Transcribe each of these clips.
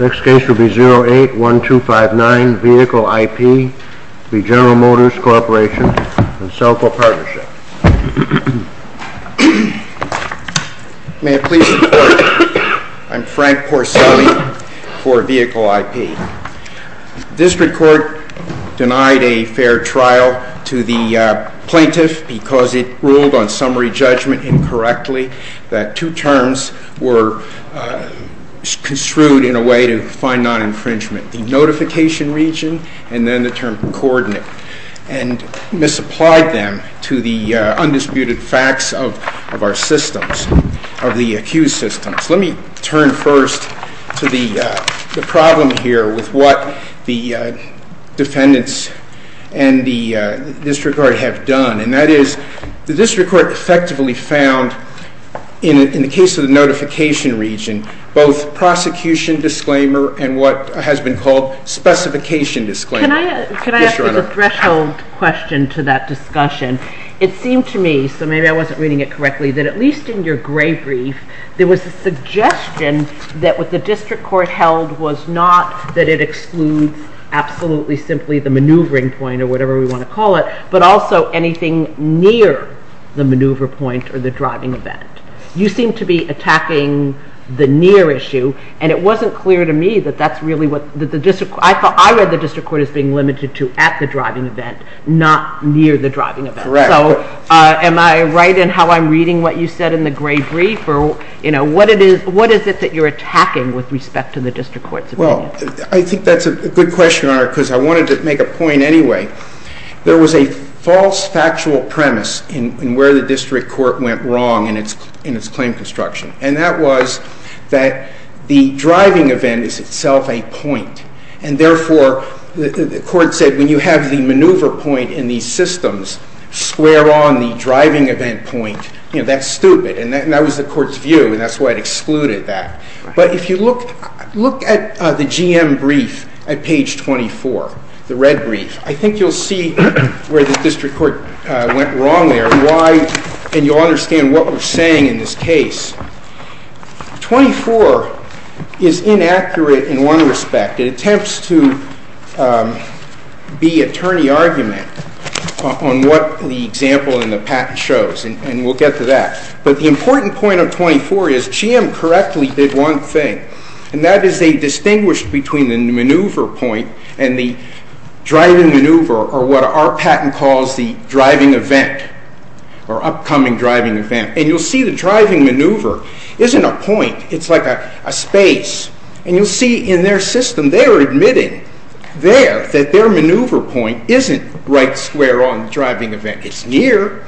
Next case will be 08-1259, Vehicle IP v. General Motors Corporation and Selco Partnership. May I please report? I'm Frank Porcelli for Vehicle IP. District Court denied a fair trial to the plaintiff because it ruled on summary judgment incorrectly that two terms were construed in a way to find non-infringement. The notification region and then the term coordinate. And misapplied them to the undisputed facts of our systems, of the accused systems. Let me turn first to the problem here with what the defendants and the district court have done. And that is the district court effectively found in the case of the notification region both prosecution disclaimer and what has been called specification disclaimer. Can I ask a threshold question to that discussion? It seemed to me, so maybe I wasn't reading it correctly, that at least in your gray brief there was a suggestion that what the district court held was not that it excludes absolutely simply the maneuvering point or whatever we want to call it, but also anything near the maneuver point or the driving event. You seem to be attacking the near issue and it wasn't clear to me that that's really what the district, I read the district court as being limited to at the driving event, not near the driving event. Correct. So am I right in how I'm reading what you said in the gray brief? Or what is it that you're attacking with respect to the district court's opinion? Well, I think that's a good question, Your Honor, because I wanted to make a point anyway. There was a false factual premise in where the district court went wrong in its claim construction. And that was that the driving event is itself a point. And therefore, the court said when you have the maneuver point in these systems square on the driving event point, that's stupid. And that was the court's view, and that's why it excluded that. But if you look at the GM brief at page 24, the red brief, I think you'll see where the district court went wrong there, and you'll understand what we're saying in this case. 24 is inaccurate in one respect. It attempts to be attorney argument on what the example in the patent shows, and we'll get to that. But the important point of 24 is GM correctly did one thing, and that is they distinguished between the maneuver point and the driving maneuver, or what our patent calls the driving event, or upcoming driving event. And you'll see the driving maneuver isn't a point. It's like a space. And you'll see in their system they're admitting there that their maneuver point isn't right square on the driving event. It's near,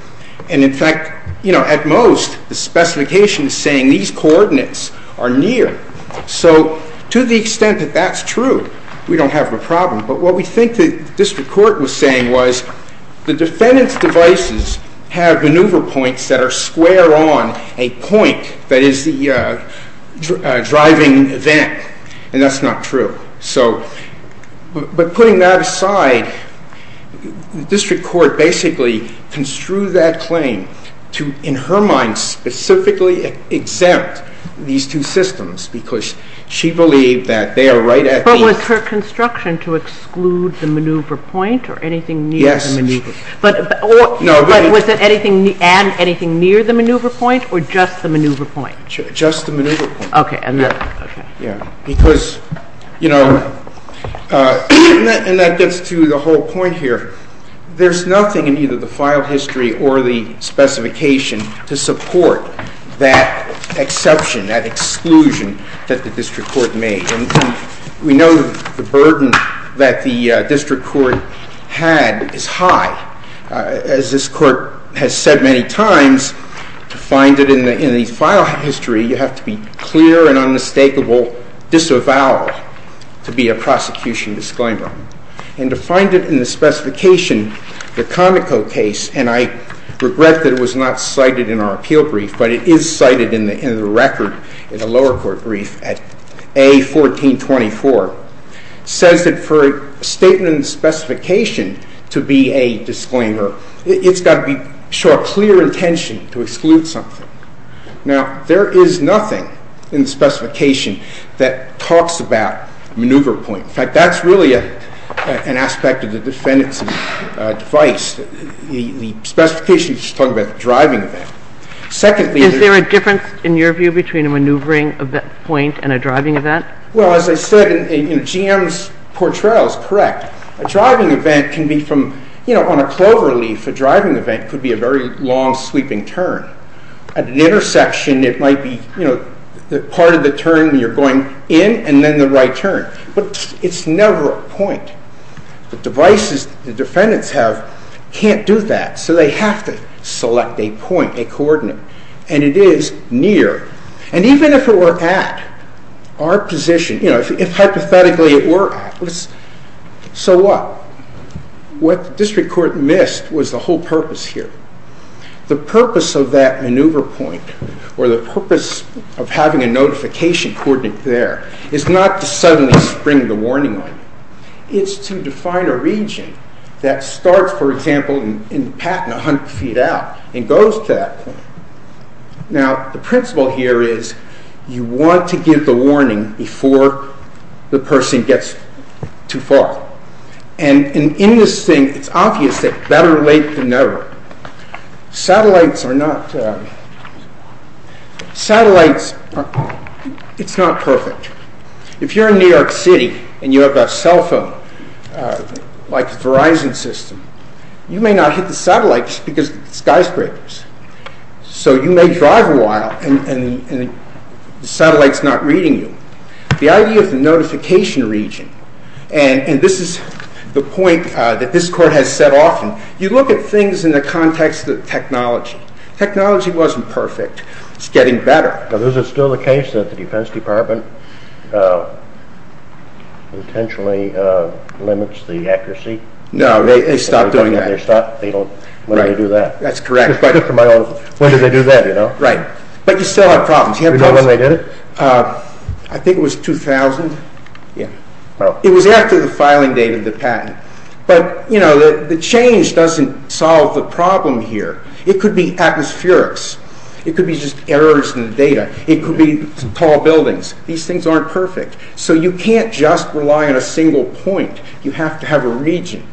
and in fact, at most, the specification is saying these coordinates are near. So to the extent that that's true, we don't have a problem. But what we think the district court was saying was the defendant's devices have maneuver points that are square on a point that is the driving event, and that's not true. But putting that aside, the district court basically construed that claim to, in her mind, specifically exempt these two systems because she believed that they are right at the east. But was her construction to exclude the maneuver point or anything near the maneuver point? Yes. But was it anything near the maneuver point or just the maneuver point? Just the maneuver point. Okay. Because, you know, and that gets to the whole point here. There's nothing in either the file history or the specification to support that exception, that exclusion that the district court made. And we know the burden that the district court had is high. As this court has said many times, to find it in the file history, you have to be clear and unmistakable disavowal to be a prosecution disclaimer. And to find it in the specification, the Conoco case, and I regret that it was not cited in our appeal brief, but it is cited in the record in the lower court brief at A1424, says that for a statement in the specification to be a disclaimer, it's got to show a clear intention to exclude something. Now, there is nothing in the specification that talks about maneuver point. In fact, that's really an aspect of the defendant's advice. The specification is just talking about the driving event. Secondly, there's – Is there a difference, in your view, between a maneuvering point and a driving event? Well, as I said, GM's portrayal is correct. A driving event can be from, you know, on a cloverleaf, a driving event could be a very long, sweeping turn. At an intersection, it might be, you know, part of the turn when you're going in and then the right turn. But it's never a point. The devices the defendants have can't do that, so they have to select a point, a coordinate. And it is near. And even if it were at our position, you know, if hypothetically it were at, so what? What the district court missed was the whole purpose here. The purpose of that maneuver point, or the purpose of having a notification coordinate there, is not to suddenly spring the warning light. It's to define a region that starts, for example, in Patton, 100 feet out, and goes to that point. Now, the principle here is you want to give the warning before the person gets too far. And in this thing, it's obvious that better late than never. Satellites are not... Satellites, it's not perfect. If you're in New York City and you have a cell phone, like the Verizon system, you may not hit the satellites because of skyscrapers. So you may drive a while and the satellite's not reading you. The idea of the notification region, and this is the point that this court has said often, you look at things in the context of technology. Technology wasn't perfect. It's getting better. Is it still the case that the Defense Department potentially limits the accuracy? No, they stopped doing that. That's correct. But you still have problems. I think it was 2000. It was after the filing date of the patent. But the change doesn't solve the problem here. It could be atmospherics. It could be just errors in the data. It could be tall buildings. These things aren't perfect. So you can't just rely on a single point. You have to have a region.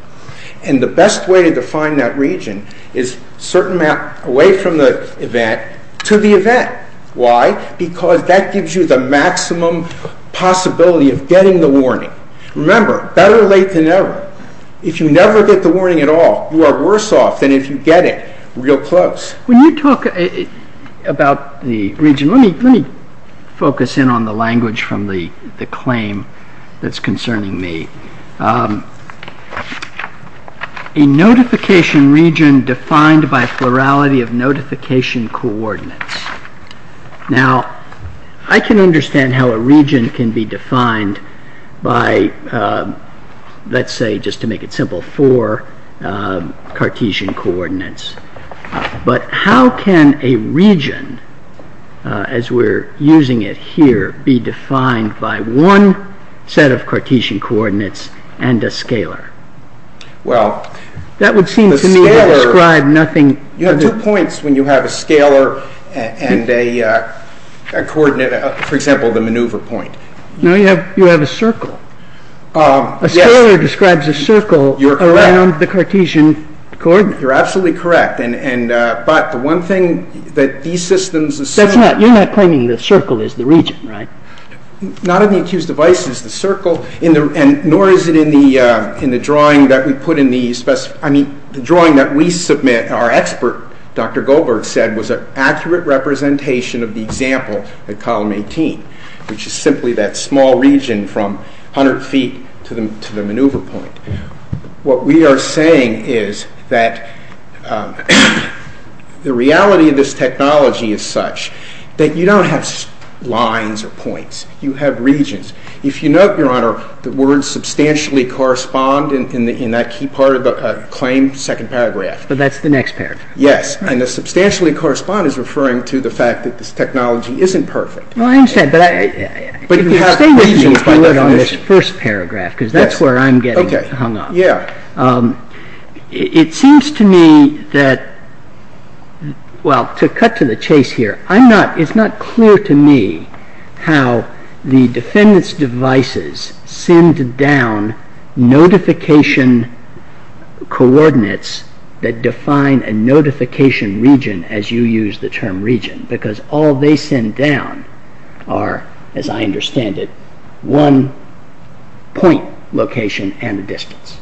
And the best way to define that region is certain map away from the event to the event. Why? Because that gives you the maximum possibility of getting the warning. Remember, better late than never. If you never get the warning at all, you are worse off than if you get it real close. When you talk about the region, let me focus in on the language from the claim that's concerning me. A notification region defined by plurality of notification coordinates. Now, I can understand how a region can be defined by, let's say, just to make it simple, four Cartesian coordinates. But how can a region, as we're using it here, be defined by one set of Cartesian coordinates and a scalar? That would seem to me to describe nothing. You have two points when you have a scalar and a coordinate. For example, the maneuver point. No, you have a circle. A scalar describes a circle around the Cartesian coordinate. You're absolutely correct. But the one thing that these systems assume... You're not claiming the circle is the region, right? Not in the accused device is the circle, nor is it in the drawing that we put in the... I mean, the drawing that we submit, our expert, Dr. Goldberg, said, was an accurate representation of the example in column 18, which is simply that small region from 100 feet to the maneuver point. What we are saying is that the reality of this technology is such that you don't have lines or points. You have regions. If you note, Your Honor, the words substantially correspond in that key part of the claim, second paragraph. But that's the next paragraph. Yes, and the substantially correspond is referring to the fact that this technology isn't perfect. Well, I understand, but... But you have regions by definition. Let's do it on this first paragraph, because that's where I'm getting hung up. It seems to me that... Well, to cut to the chase here, it's not clear to me how the defendant's devices send down notification coordinates that define a notification region as you use the term region, because all they send down are, as I understand it, one point location and a distance.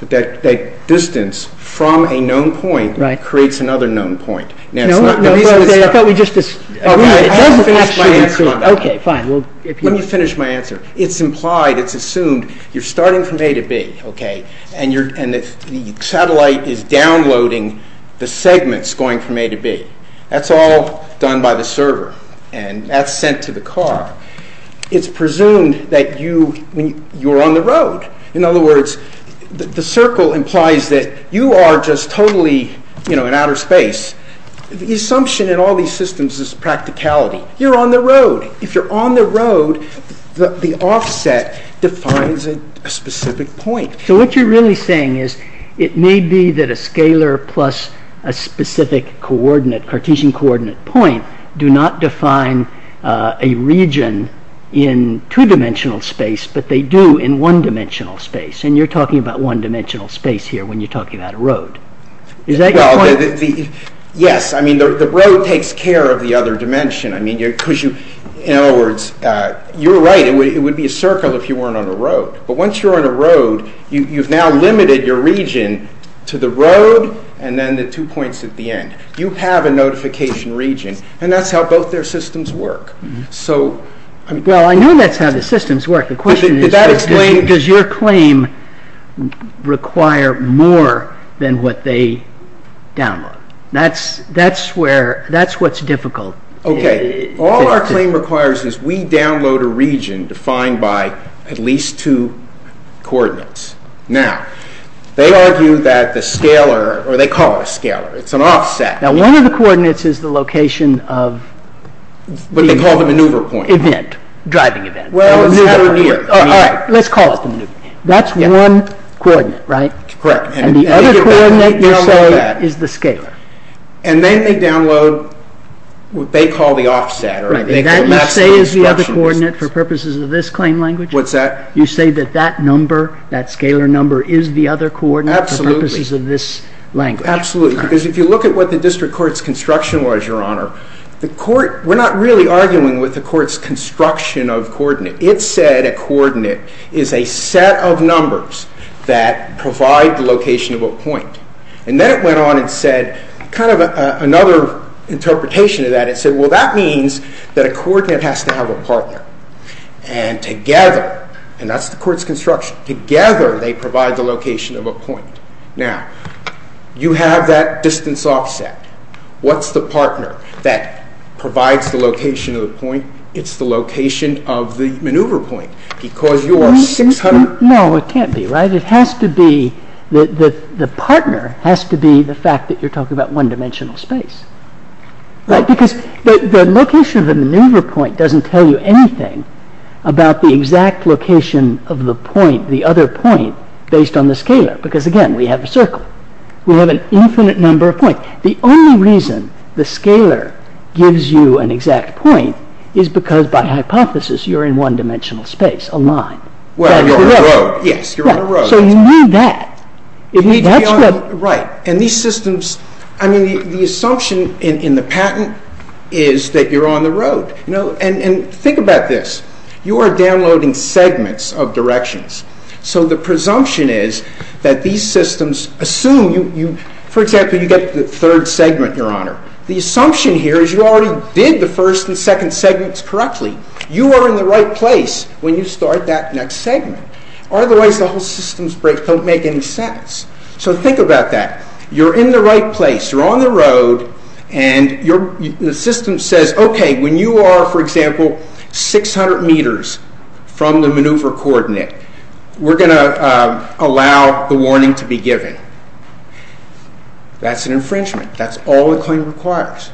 But that distance from a known point creates another known point. Now, it's not... No, no, I thought we just... I haven't finished my answer on that. Okay, fine. Let me finish my answer. It's implied, it's assumed, you're starting from A to B, okay, and the satellite is downloading the segments going from A to B. That's all done by the server, and that's sent to the car. It's presumed that you're on the road. In other words, the circle implies that you are just totally in outer space. The assumption in all these systems is practicality. You're on the road. If you're on the road, the offset defines a specific point. So what you're really saying is, it may be that a scalar plus a specific Cartesian coordinate point do not define a region in two-dimensional space, but they do in one-dimensional space. And you're talking about one-dimensional space here when you're talking about a road. Is that your point? Well, yes. I mean, the road takes care of the other dimension. I mean, because you... In other words, you're right. It would be a circle if you weren't on a road. But once you're on a road, you've now limited your region to the road and then the two points at the end. You have a notification region, and that's how both their systems work. So... Well, I know that's how the systems work. The question is... Does that explain... Does your claim require more than what they download? That's where... That's what's difficult. Okay. All our claim requires is we download a region defined by at least two coordinates. Now, they argue that the scalar, or they call it a scalar. It's an offset. Now, one of the coordinates is the location of... What they call the maneuver point. Event. Driving event. Well, it's that over here. All right. Let's call it the maneuver point. That's one coordinate, right? Correct. And the other coordinate, you're saying, is the scalar. And then they download what they call the offset, or they call maximum construction distance. That you say is the other coordinate for purposes of this claim language? What's that? You say that that number, that scalar number, is the other coordinate for purposes of this language. Absolutely. Because if you look at what the district court's construction was, Your Honor, the court... We're not really arguing with the court's construction of coordinate. It said a coordinate is a set of numbers that provide the location of a point. And then it went on and said, kind of another interpretation of that, it said, well, that means that a coordinate has to have a partner. together they provide the location of a point. Now, you have that distance offset. What's the partner that provides the location of the point? It's the location of the maneuver point. Because you are 600... No, it can't be, right? It has to be, the partner has to be the fact that you're talking about one-dimensional space. Right? Because the location of the maneuver point doesn't tell you anything about the exact location of the point, the other point, based on the scalar. Because, again, we have a circle. We have an infinite number of points. The only reason the scalar gives you an exact point is because, by hypothesis, you're in one-dimensional space, a line. Well, you're on a road. Yes, you're on a road. So you need that. Right. And these systems... I mean, the assumption in the patent is that you're on the road. And think about this. You are downloading segments of directions. So the presumption is that these systems assume... For example, you get the third segment, Your Honor. The assumption here is you already did the first and second segments correctly. You are in the right place when you start that next segment. Otherwise, the whole system's break don't make any sense. So think about that. You're in the right place. You're on the road. And the system says, Okay, when you are, for example, 600 meters from the maneuver coordinate, we're going to allow the warning to be given. That's an infringement. That's all the claim requires.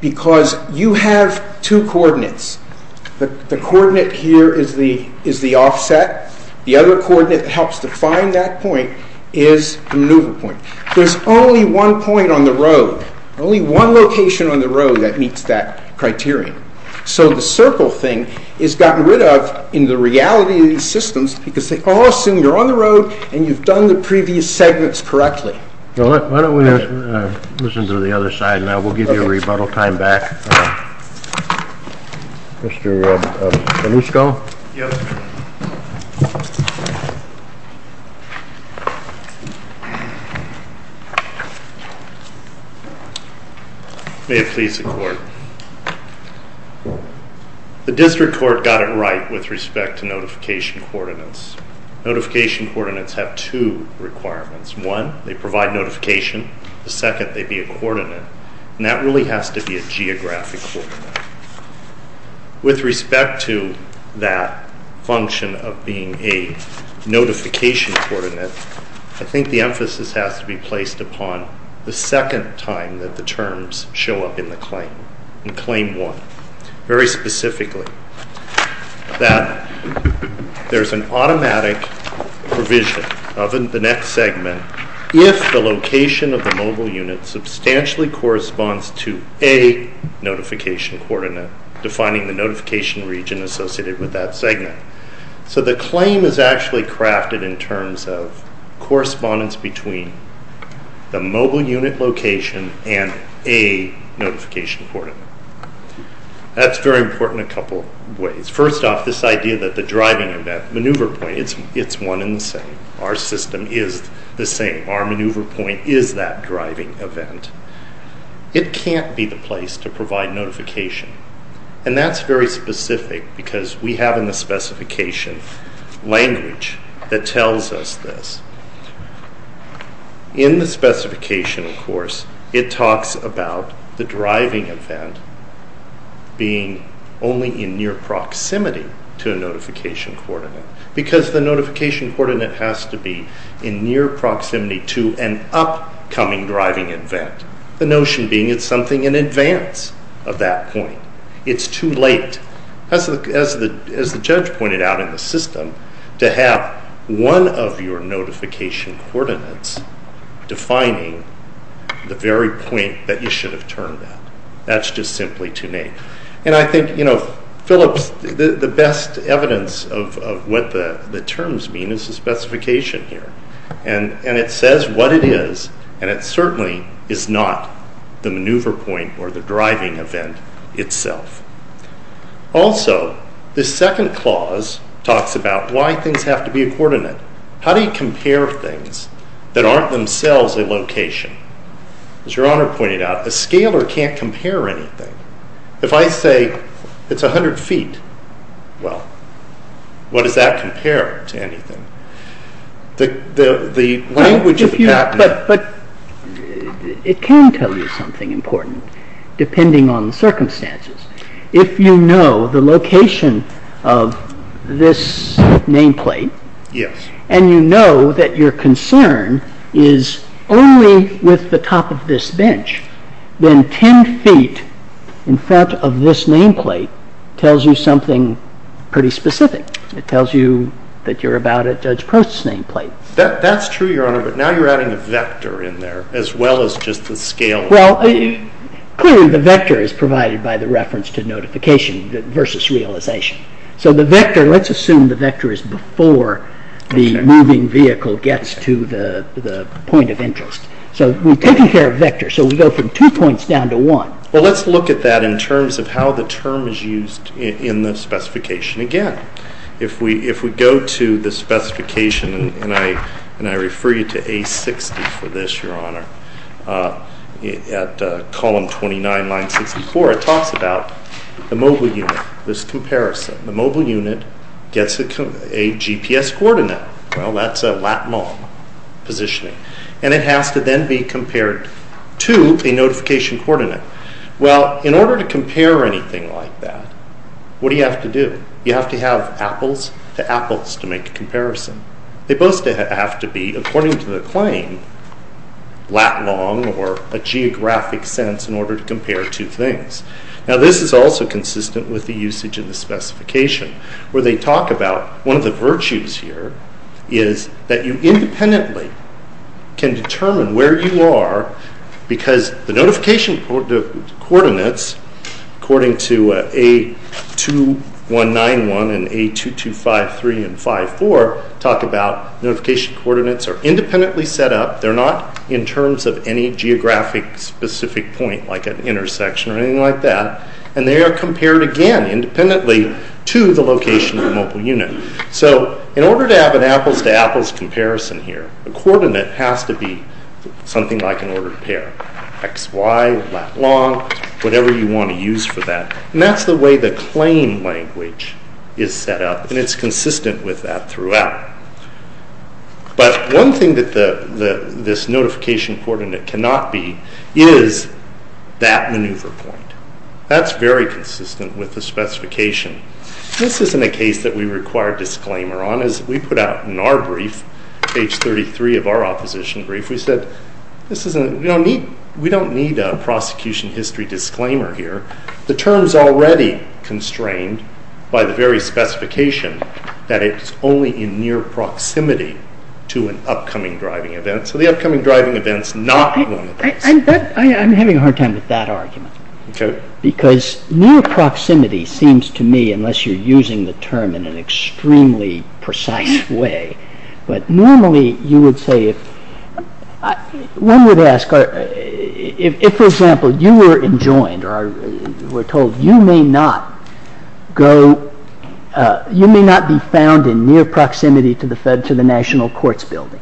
Because you have two coordinates. The coordinate here is the offset. The other coordinate that helps define that point is the maneuver point. There's only one point on the road, only one location on the road that meets that criterion. So the circle thing is gotten rid of in the reality of these systems because they all assume you're on the road and you've done the previous segments correctly. Why don't we listen to the other side now? We'll give you a rebuttal time back. Mr. Belusco? Yes. May it please the Court. The District Court got it right with respect to notification coordinates. Notification coordinates have two requirements. One, they provide notification. The second, they be a coordinate. And that really has to be a geographic coordinate. With respect to that function of being a notification coordinate, I think the emphasis has to be placed upon the second time that the terms show up in the claim, in Claim 1. Very specifically, that there's an automatic provision of the next segment if the location of the mobile unit substantially corresponds to a notification coordinate defining the notification region associated with that segment. So the claim is actually crafted in terms of correspondence between the mobile unit location and a notification coordinate. That's very important in a couple of ways. First off, this idea that the driving event, maneuver point, it's one and the same. Our system is the same. Our maneuver point is that driving event. It can't be the place to provide notification. And that's very specific because we have in the specification language that tells us this. In the specification, of course, it talks about the driving event being only in near proximity to a notification coordinate because the notification coordinate has to be in near proximity to an upcoming driving event. The notion being it's something in advance of that point. It's too late. As the judge pointed out in the system, to have one of your notification coordinates defining the very point that you should have turned at. That's just simply too late. And I think, you know, Phillips, the best evidence of what the terms mean is the specification here. And it says what it is and it certainly is not the maneuver point or the driving event itself. Also, the second clause talks about why things have to be a coordinate. How do you compare things that aren't themselves a location? As Your Honor pointed out, a scaler can't compare anything. If I say it's 100 feet, well, what does that compare to anything? The language of the patent... But it can tell you something important depending on the circumstances. If you know the location of this nameplate and you know that your concern is only with the top of this bench, then 10 feet in front of this nameplate tells you something pretty specific. It tells you that you're about at Judge Prost's nameplate. That's true, Your Honor, but now you're adding a vector in there as well as just the scaler. Well, clearly the vector is provided by the reference to notification versus realization. So the vector, let's assume the vector is before the moving vehicle gets to the point of interest. So we've taken care of vectors, so we go from two points down to one. Well, let's look at that in terms of how the term is used in the specification again. If we go to the specification, and I refer you to A60 for this, Your Honor, at column 29, line 64, it talks about the mobile unit, this comparison. The mobile unit gets a GPS coordinate. Well, that's a lat-long positioning, and it has to then be compared to a notification coordinate. Well, in order to compare anything like that, what do you have to do? You have to have apples to apples to make a comparison. They both have to be, according to the claim, lat-long or a geographic sense in order to compare two things. Now, this is also consistent with the usage in the specification where they talk about one of the virtues here is that you independently can determine where you are because the notification coordinates, according to A2191 and A2253 and 54, talk about notification coordinates are independently set up. They're not in terms of any geographic specific point like an intersection or anything like that, and they are compared again independently to the location of the mobile unit. So in order to have an apples to apples comparison here, the coordinate has to be something like an ordered pair, xy, lat-long, whatever you want to use for that, and that's the way the claim language is set up, and it's consistent with that throughout. But one thing that this notification coordinate cannot be is that maneuver point. That's very consistent with the specification. This isn't a case that we require disclaimer on. As we put out in our brief, page 33 of our opposition brief, we said we don't need a prosecution history disclaimer here. The term's already constrained by the very specification that it's only in near proximity to an upcoming driving event, so the upcoming driving event's not one of those. I'm having a hard time with that argument because near proximity seems to me, unless you're using the term in an extremely precise way, but normally you would say if... One would ask if, for example, you were enjoined or were told, you may not be found in near proximity to the National Courts Building.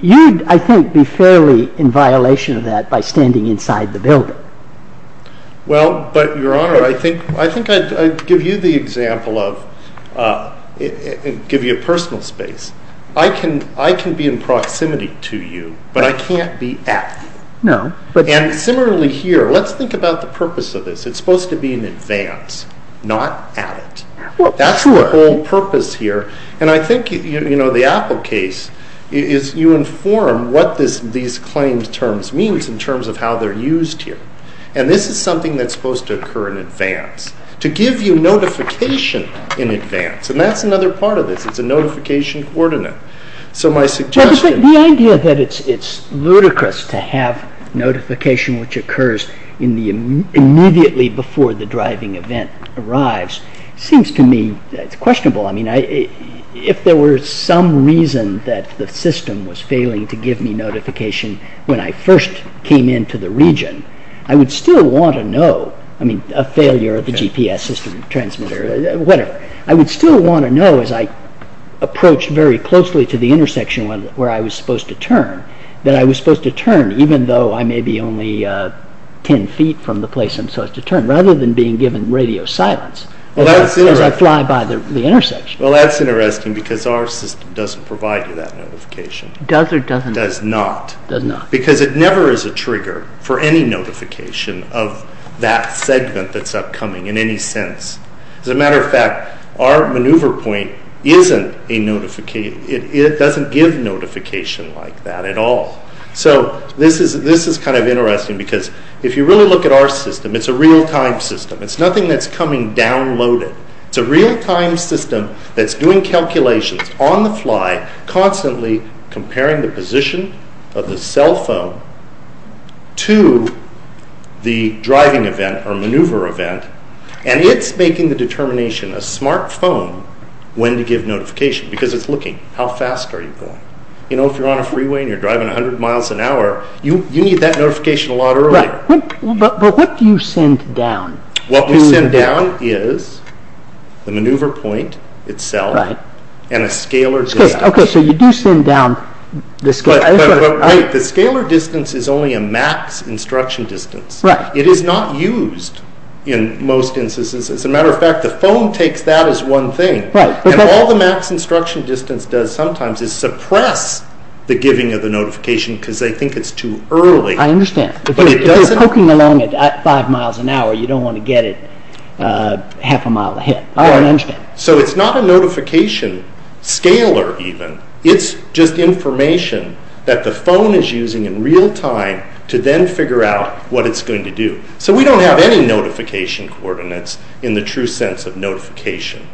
You'd, I think, be fairly in violation of that by standing inside the building. Well, but, Your Honor, I think I'd give you the example of... give you a personal space. I can be in proximity to you, but I can't be at. No, but... And similarly here, let's think about the purpose of this. It's supposed to be in advance, not at it. Well, sure. That's the whole purpose here, and I think, you know, the Apple case is you inform what these claimed terms mean in terms of how they're used here, and this is something that's supposed to occur in advance, to give you notification in advance, and that's another part of this. It's a notification coordinate. So my suggestion... The idea that it's ludicrous to have notification which occurs immediately before the driving event arrives seems to me questionable. I mean, if there were some reason that the system was failing to give me notification when I first came into the region, I would still want to know. I mean, a failure of the GPS system, transmitter, whatever. I would still want to know as I approached very closely to the intersection where I was supposed to turn, that I was supposed to turn even though I may be only 10 feet from the place I'm supposed to turn, rather than being given radio silence as I fly by the intersection. Well, that's interesting because our system doesn't provide you that notification. Does or doesn't? Does not. Does not. Because it never is a trigger for any notification of that segment that's upcoming in any sense. As a matter of fact, our maneuver point isn't a notification. It doesn't give notification like that at all. So this is kind of interesting because if you really look at our system, it's a real-time system. It's nothing that's coming downloaded. It's a real-time system that's doing calculations on the fly, constantly comparing the position of the cell phone to the driving event or maneuver event, and it's making the determination, a smartphone, when to give notification because it's looking how fast are you going. You know, if you're on a freeway and you're driving 100 miles an hour, you need that notification a lot earlier. But what do you send down? What we send down is the maneuver point itself and a scalar distance. Okay, so you do send down the scalar. But wait. The scalar distance is only a max instruction distance. It is not used in most instances. As a matter of fact, the phone takes that as one thing, and all the max instruction distance does sometimes is suppress the giving of the notification because they think it's too early. I understand. If you're poking along at 5 miles an hour, you don't want to get it half a mile ahead. I understand. So it's not a notification scalar even. It's just information that the phone is using in real time to then figure out what it's going to do. So we don't have any notification coordinates in the true sense of notification.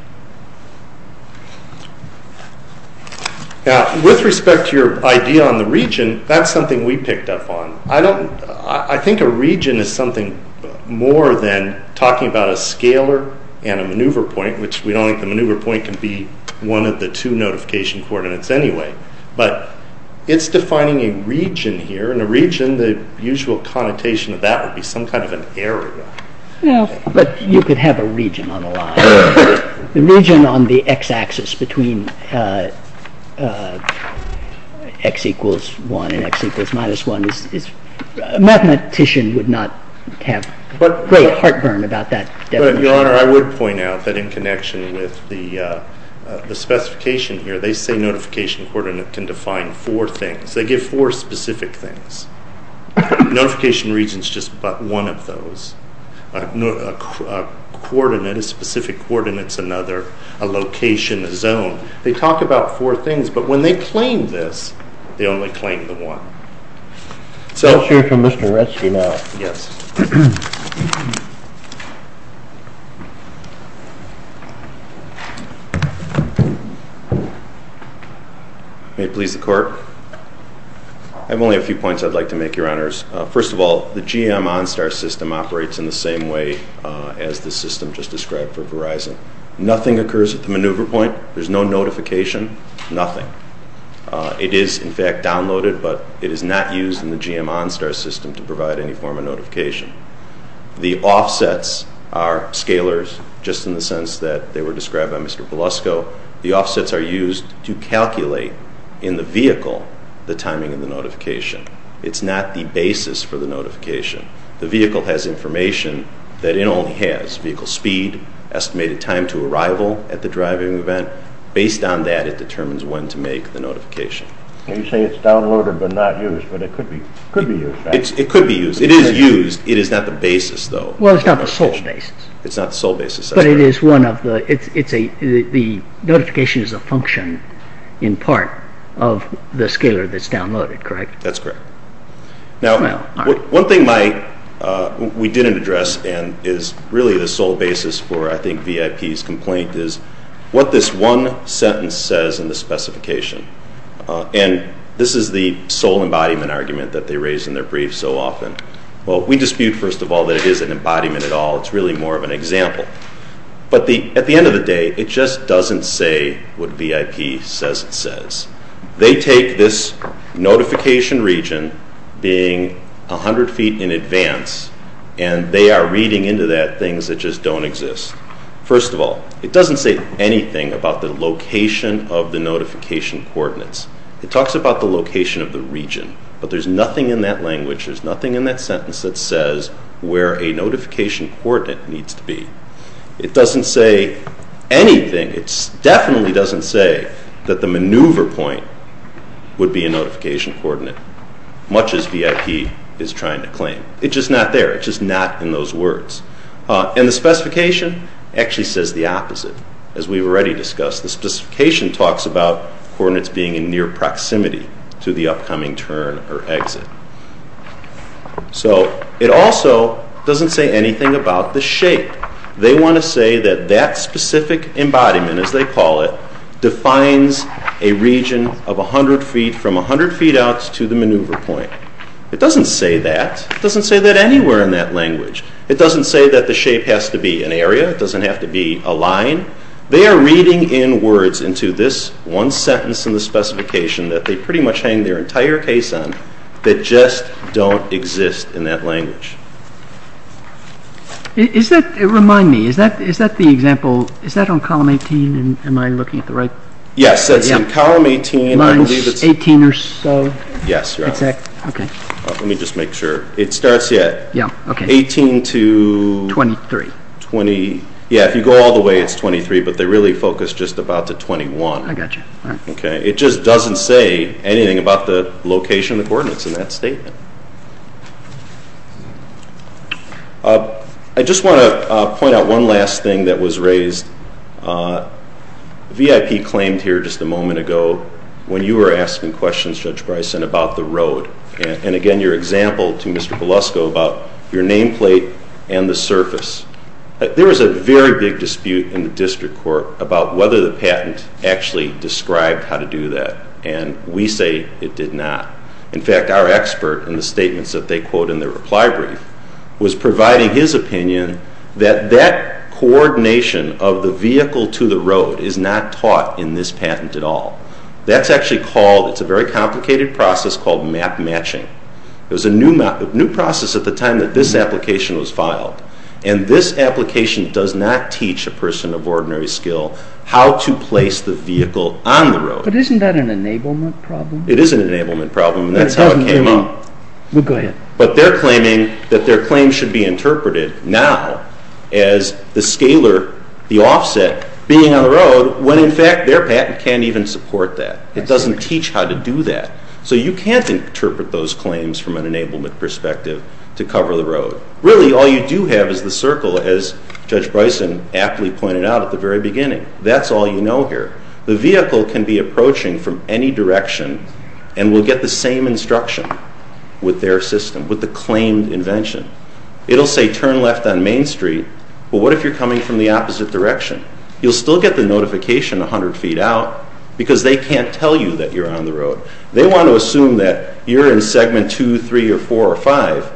Now, with respect to your idea on the region, that's something we picked up on. I think a region is something more than talking about a scalar and a maneuver point, which we don't think the maneuver point can be one of the two notification coordinates anyway. But it's defining a region here and a region, the usual connotation of that would be some kind of an area. No. But you could have a region on the line. The region on the x-axis between x equals 1 and x equals minus 1 is, a mathematician would not have great heartburn about that definition. But, Your Honor, I would point out that in connection with the specification here, they say notification coordinate can define four things. They give four specific things. Notification region is just one of those. A coordinate, a specific coordinate is another. A location, a zone. They talk about four things, but when they claim this, they only claim the one. I'll hear from Mr. Retzke now. Yes. May it please the Court. I have only a few points I'd like to make, Your Honors. First of all, the GM OnStar system operates in the same way as the system just described for Verizon. Nothing occurs at the maneuver point. There's no notification. Nothing. It is, in fact, downloaded, but it is not used in the GM OnStar system to provide any form of notification. The offsets are scalers, just in the sense that they were described by Mr. Belusco. The offsets are used to calculate in the vehicle the timing of the notification. It's not the basis for the notification. The vehicle has information that it only has, vehicle speed, estimated time to arrival at the driving event. Based on that, it determines when to make the notification. You say it's downloaded but not used, but it could be used, right? It could be used. It is used. It is not the basis, though. Well, it's not the sole basis. It's not the sole basis. But the notification is a function, in part, of the scaler that's downloaded, correct? That's correct. Now, one thing we didn't address and is really the sole basis for, I think, VIP's complaint is what this one sentence says in the specification. And this is the sole embodiment argument that they raise in their briefs so often. Well, we dispute, first of all, that it is an embodiment at all. It's really more of an example. But at the end of the day, it just doesn't say what VIP says it says. They take this notification region being 100 feet in advance, and they are reading into that things that just don't exist. First of all, it doesn't say anything about the location of the notification coordinates. It talks about the location of the region, but there's nothing in that language, there's nothing in that sentence that says where a notification coordinate needs to be. It doesn't say anything. It definitely doesn't say that the maneuver point would be a notification coordinate, much as VIP is trying to claim. It's just not there. It's just not in those words. And the specification actually says the opposite. As we've already discussed, the specification talks about coordinates being in near proximity to the upcoming turn or exit. So it also doesn't say anything about the shape. They want to say that that specific embodiment, as they call it, defines a region of 100 feet from 100 feet out to the maneuver point. It doesn't say that. It doesn't say that anywhere in that language. It doesn't say that the shape has to be an area. It doesn't have to be a line. They are reading in words into this one sentence in the specification that they pretty much hang their entire case on that just don't exist in that language. Is that, remind me, is that the example, is that on column 18, am I looking at the right? Yes, it's in column 18. Line 18 or so? Yes. Okay. Let me just make sure. It starts at 18 to 23. Yeah, if you go all the way, it's 23, but they really focus just about to 21. I got you. Okay. It just doesn't say anything about the location of the coordinates in that statement. I just want to point out one last thing that was raised. VIP claimed here just a moment ago when you were asking questions, Judge Bryson, about the road, and again your example to Mr. Pelusco about your nameplate and the surface. There was a very big dispute in the district court about whether the patent actually described how to do that, and we say it did not. In fact, our expert in the statements that they quote in their reply brief was providing his opinion that that coordination of the vehicle to the road is not taught in this patent at all. That's actually called, it's a very complicated process called map matching. And this application does not teach a person of ordinary skill how to place the vehicle on the road. But isn't that an enablement problem? It is an enablement problem, and that's how it came up. Well, go ahead. But they're claiming that their claim should be interpreted now as the scaler, the offset, being on the road, when in fact their patent can't even support that. It doesn't teach how to do that. So you can't interpret those claims from an enablement perspective to cover the road. Really, all you do have is the circle, as Judge Bryson aptly pointed out at the very beginning. That's all you know here. The vehicle can be approaching from any direction and will get the same instruction with their system, with the claimed invention. It'll say turn left on Main Street, but what if you're coming from the opposite direction? You'll still get the notification 100 feet out because they can't tell you that you're on the road. They want to assume that you're in segment 2, 3, or 4, or 5,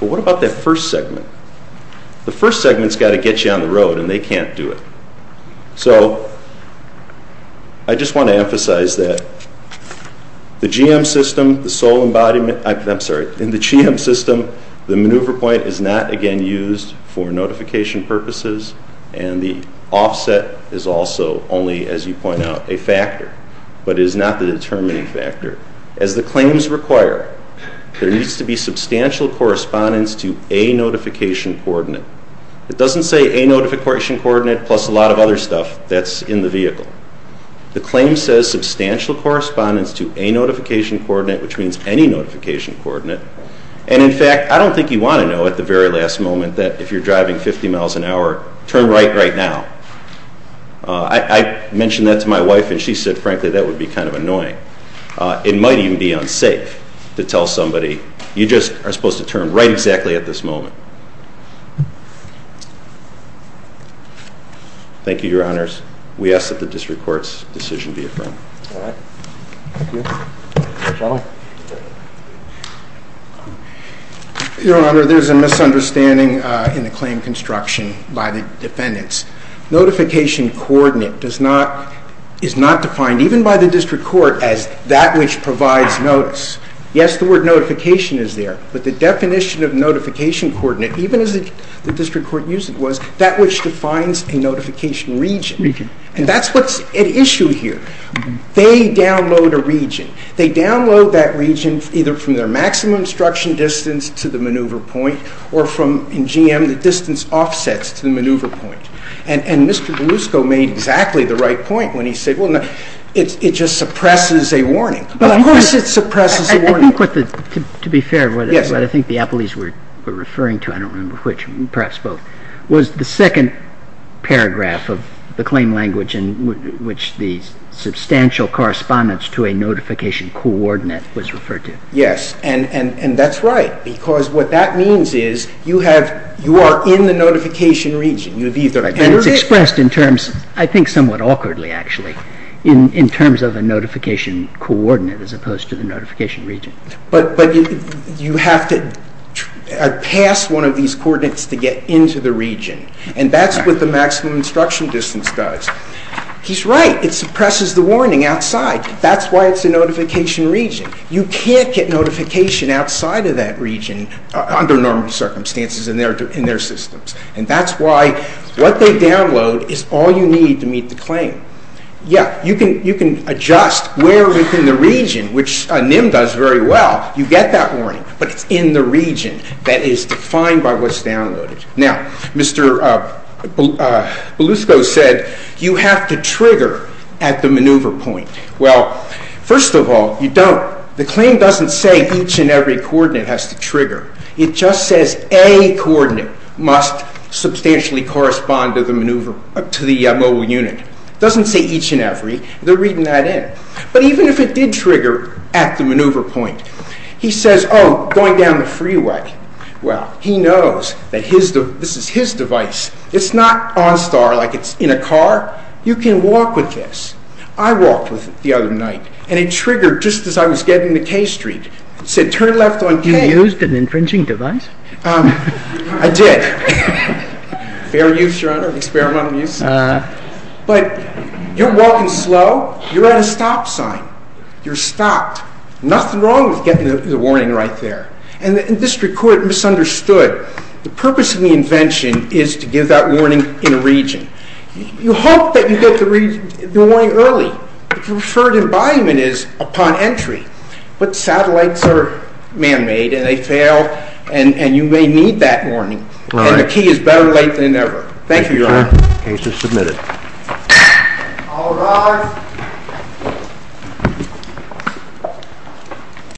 but what about that first segment? The first segment's got to get you on the road, and they can't do it. So I just want to emphasize that the GM system, the sole embodiment, I'm sorry, in the GM system, the maneuver point is not, again, used for notification purposes, and the offset is also only, as you point out, a factor, but it is not the determining factor. As the claims require, there needs to be substantial correspondence to a notification coordinate. It doesn't say a notification coordinate plus a lot of other stuff that's in the vehicle. The claim says substantial correspondence to a notification coordinate, which means any notification coordinate, and in fact, I don't think you want to know at the very last moment that if you're driving 50 miles an hour, turn right right now. I mentioned that to my wife, and she said, frankly, that would be kind of annoying. It might even be unsafe to tell somebody, you just are supposed to turn right exactly at this moment. Thank you, Your Honors. We ask that the district court's decision be affirmed. All right. Thank you. Your Honor, there's a misunderstanding in the claim construction by the defendants. Notification coordinate is not defined, even by the district court, as that which provides notice. Yes, the word notification is there, but the definition of notification coordinate, even as the district court used it, was that which defines a notification region, and that's what's at issue here. They download a region. They download that region either from their maximum obstruction distance to the maneuver point or from, in GM, the distance offsets to the maneuver point. And Mr. Belusco made exactly the right point when he said, well, no, it just suppresses a warning. But of course it suppresses a warning. To be fair, what I think the appellees were referring to, I don't remember which, perhaps both, was the second paragraph of the claim language in which the substantial correspondence to a notification coordinate was referred to. Yes, and that's right, because what that means is you are in the notification region. It's expressed in terms, I think somewhat awkwardly actually, in terms of a notification coordinate as opposed to the notification region. But you have to pass one of these coordinates to get into the region, and that's what the maximum obstruction distance does. He's right. It suppresses the warning outside. That's why it's a notification region. You can't get notification outside of that region under normal circumstances in their systems. And that's why what they download is all you need to meet the claim. Yes, you can adjust where within the region, which NIM does very well. You get that warning, but it's in the region that is defined by what's downloaded. Now, Mr. Belusco said you have to trigger at the maneuver point. Well, first of all, you don't. The claim doesn't say each and every coordinate has to trigger. It just says any coordinate must substantially correspond to the mobile unit. It doesn't say each and every. They're reading that in. But even if it did trigger at the maneuver point, he says, oh, going down the freeway. Well, he knows that this is his device. It's not OnStar like it's in a car. You can walk with this. I walked with it the other night, and it triggered just as I was getting to K Street. It said turn left on K. You used an infringing device? I did. Fair use, Your Honor, experimental use. But you're walking slow. You're at a stop sign. You're stopped. Nothing wrong with getting the warning right there. And the district court misunderstood. The purpose of the invention is to give that warning in a region. You hope that you get the warning early. The preferred embodiment is upon entry. But satellites are man-made, and they fail, and you may need that warning. And the key is better late than never. Thank you, Your Honor. The case is submitted. All rise.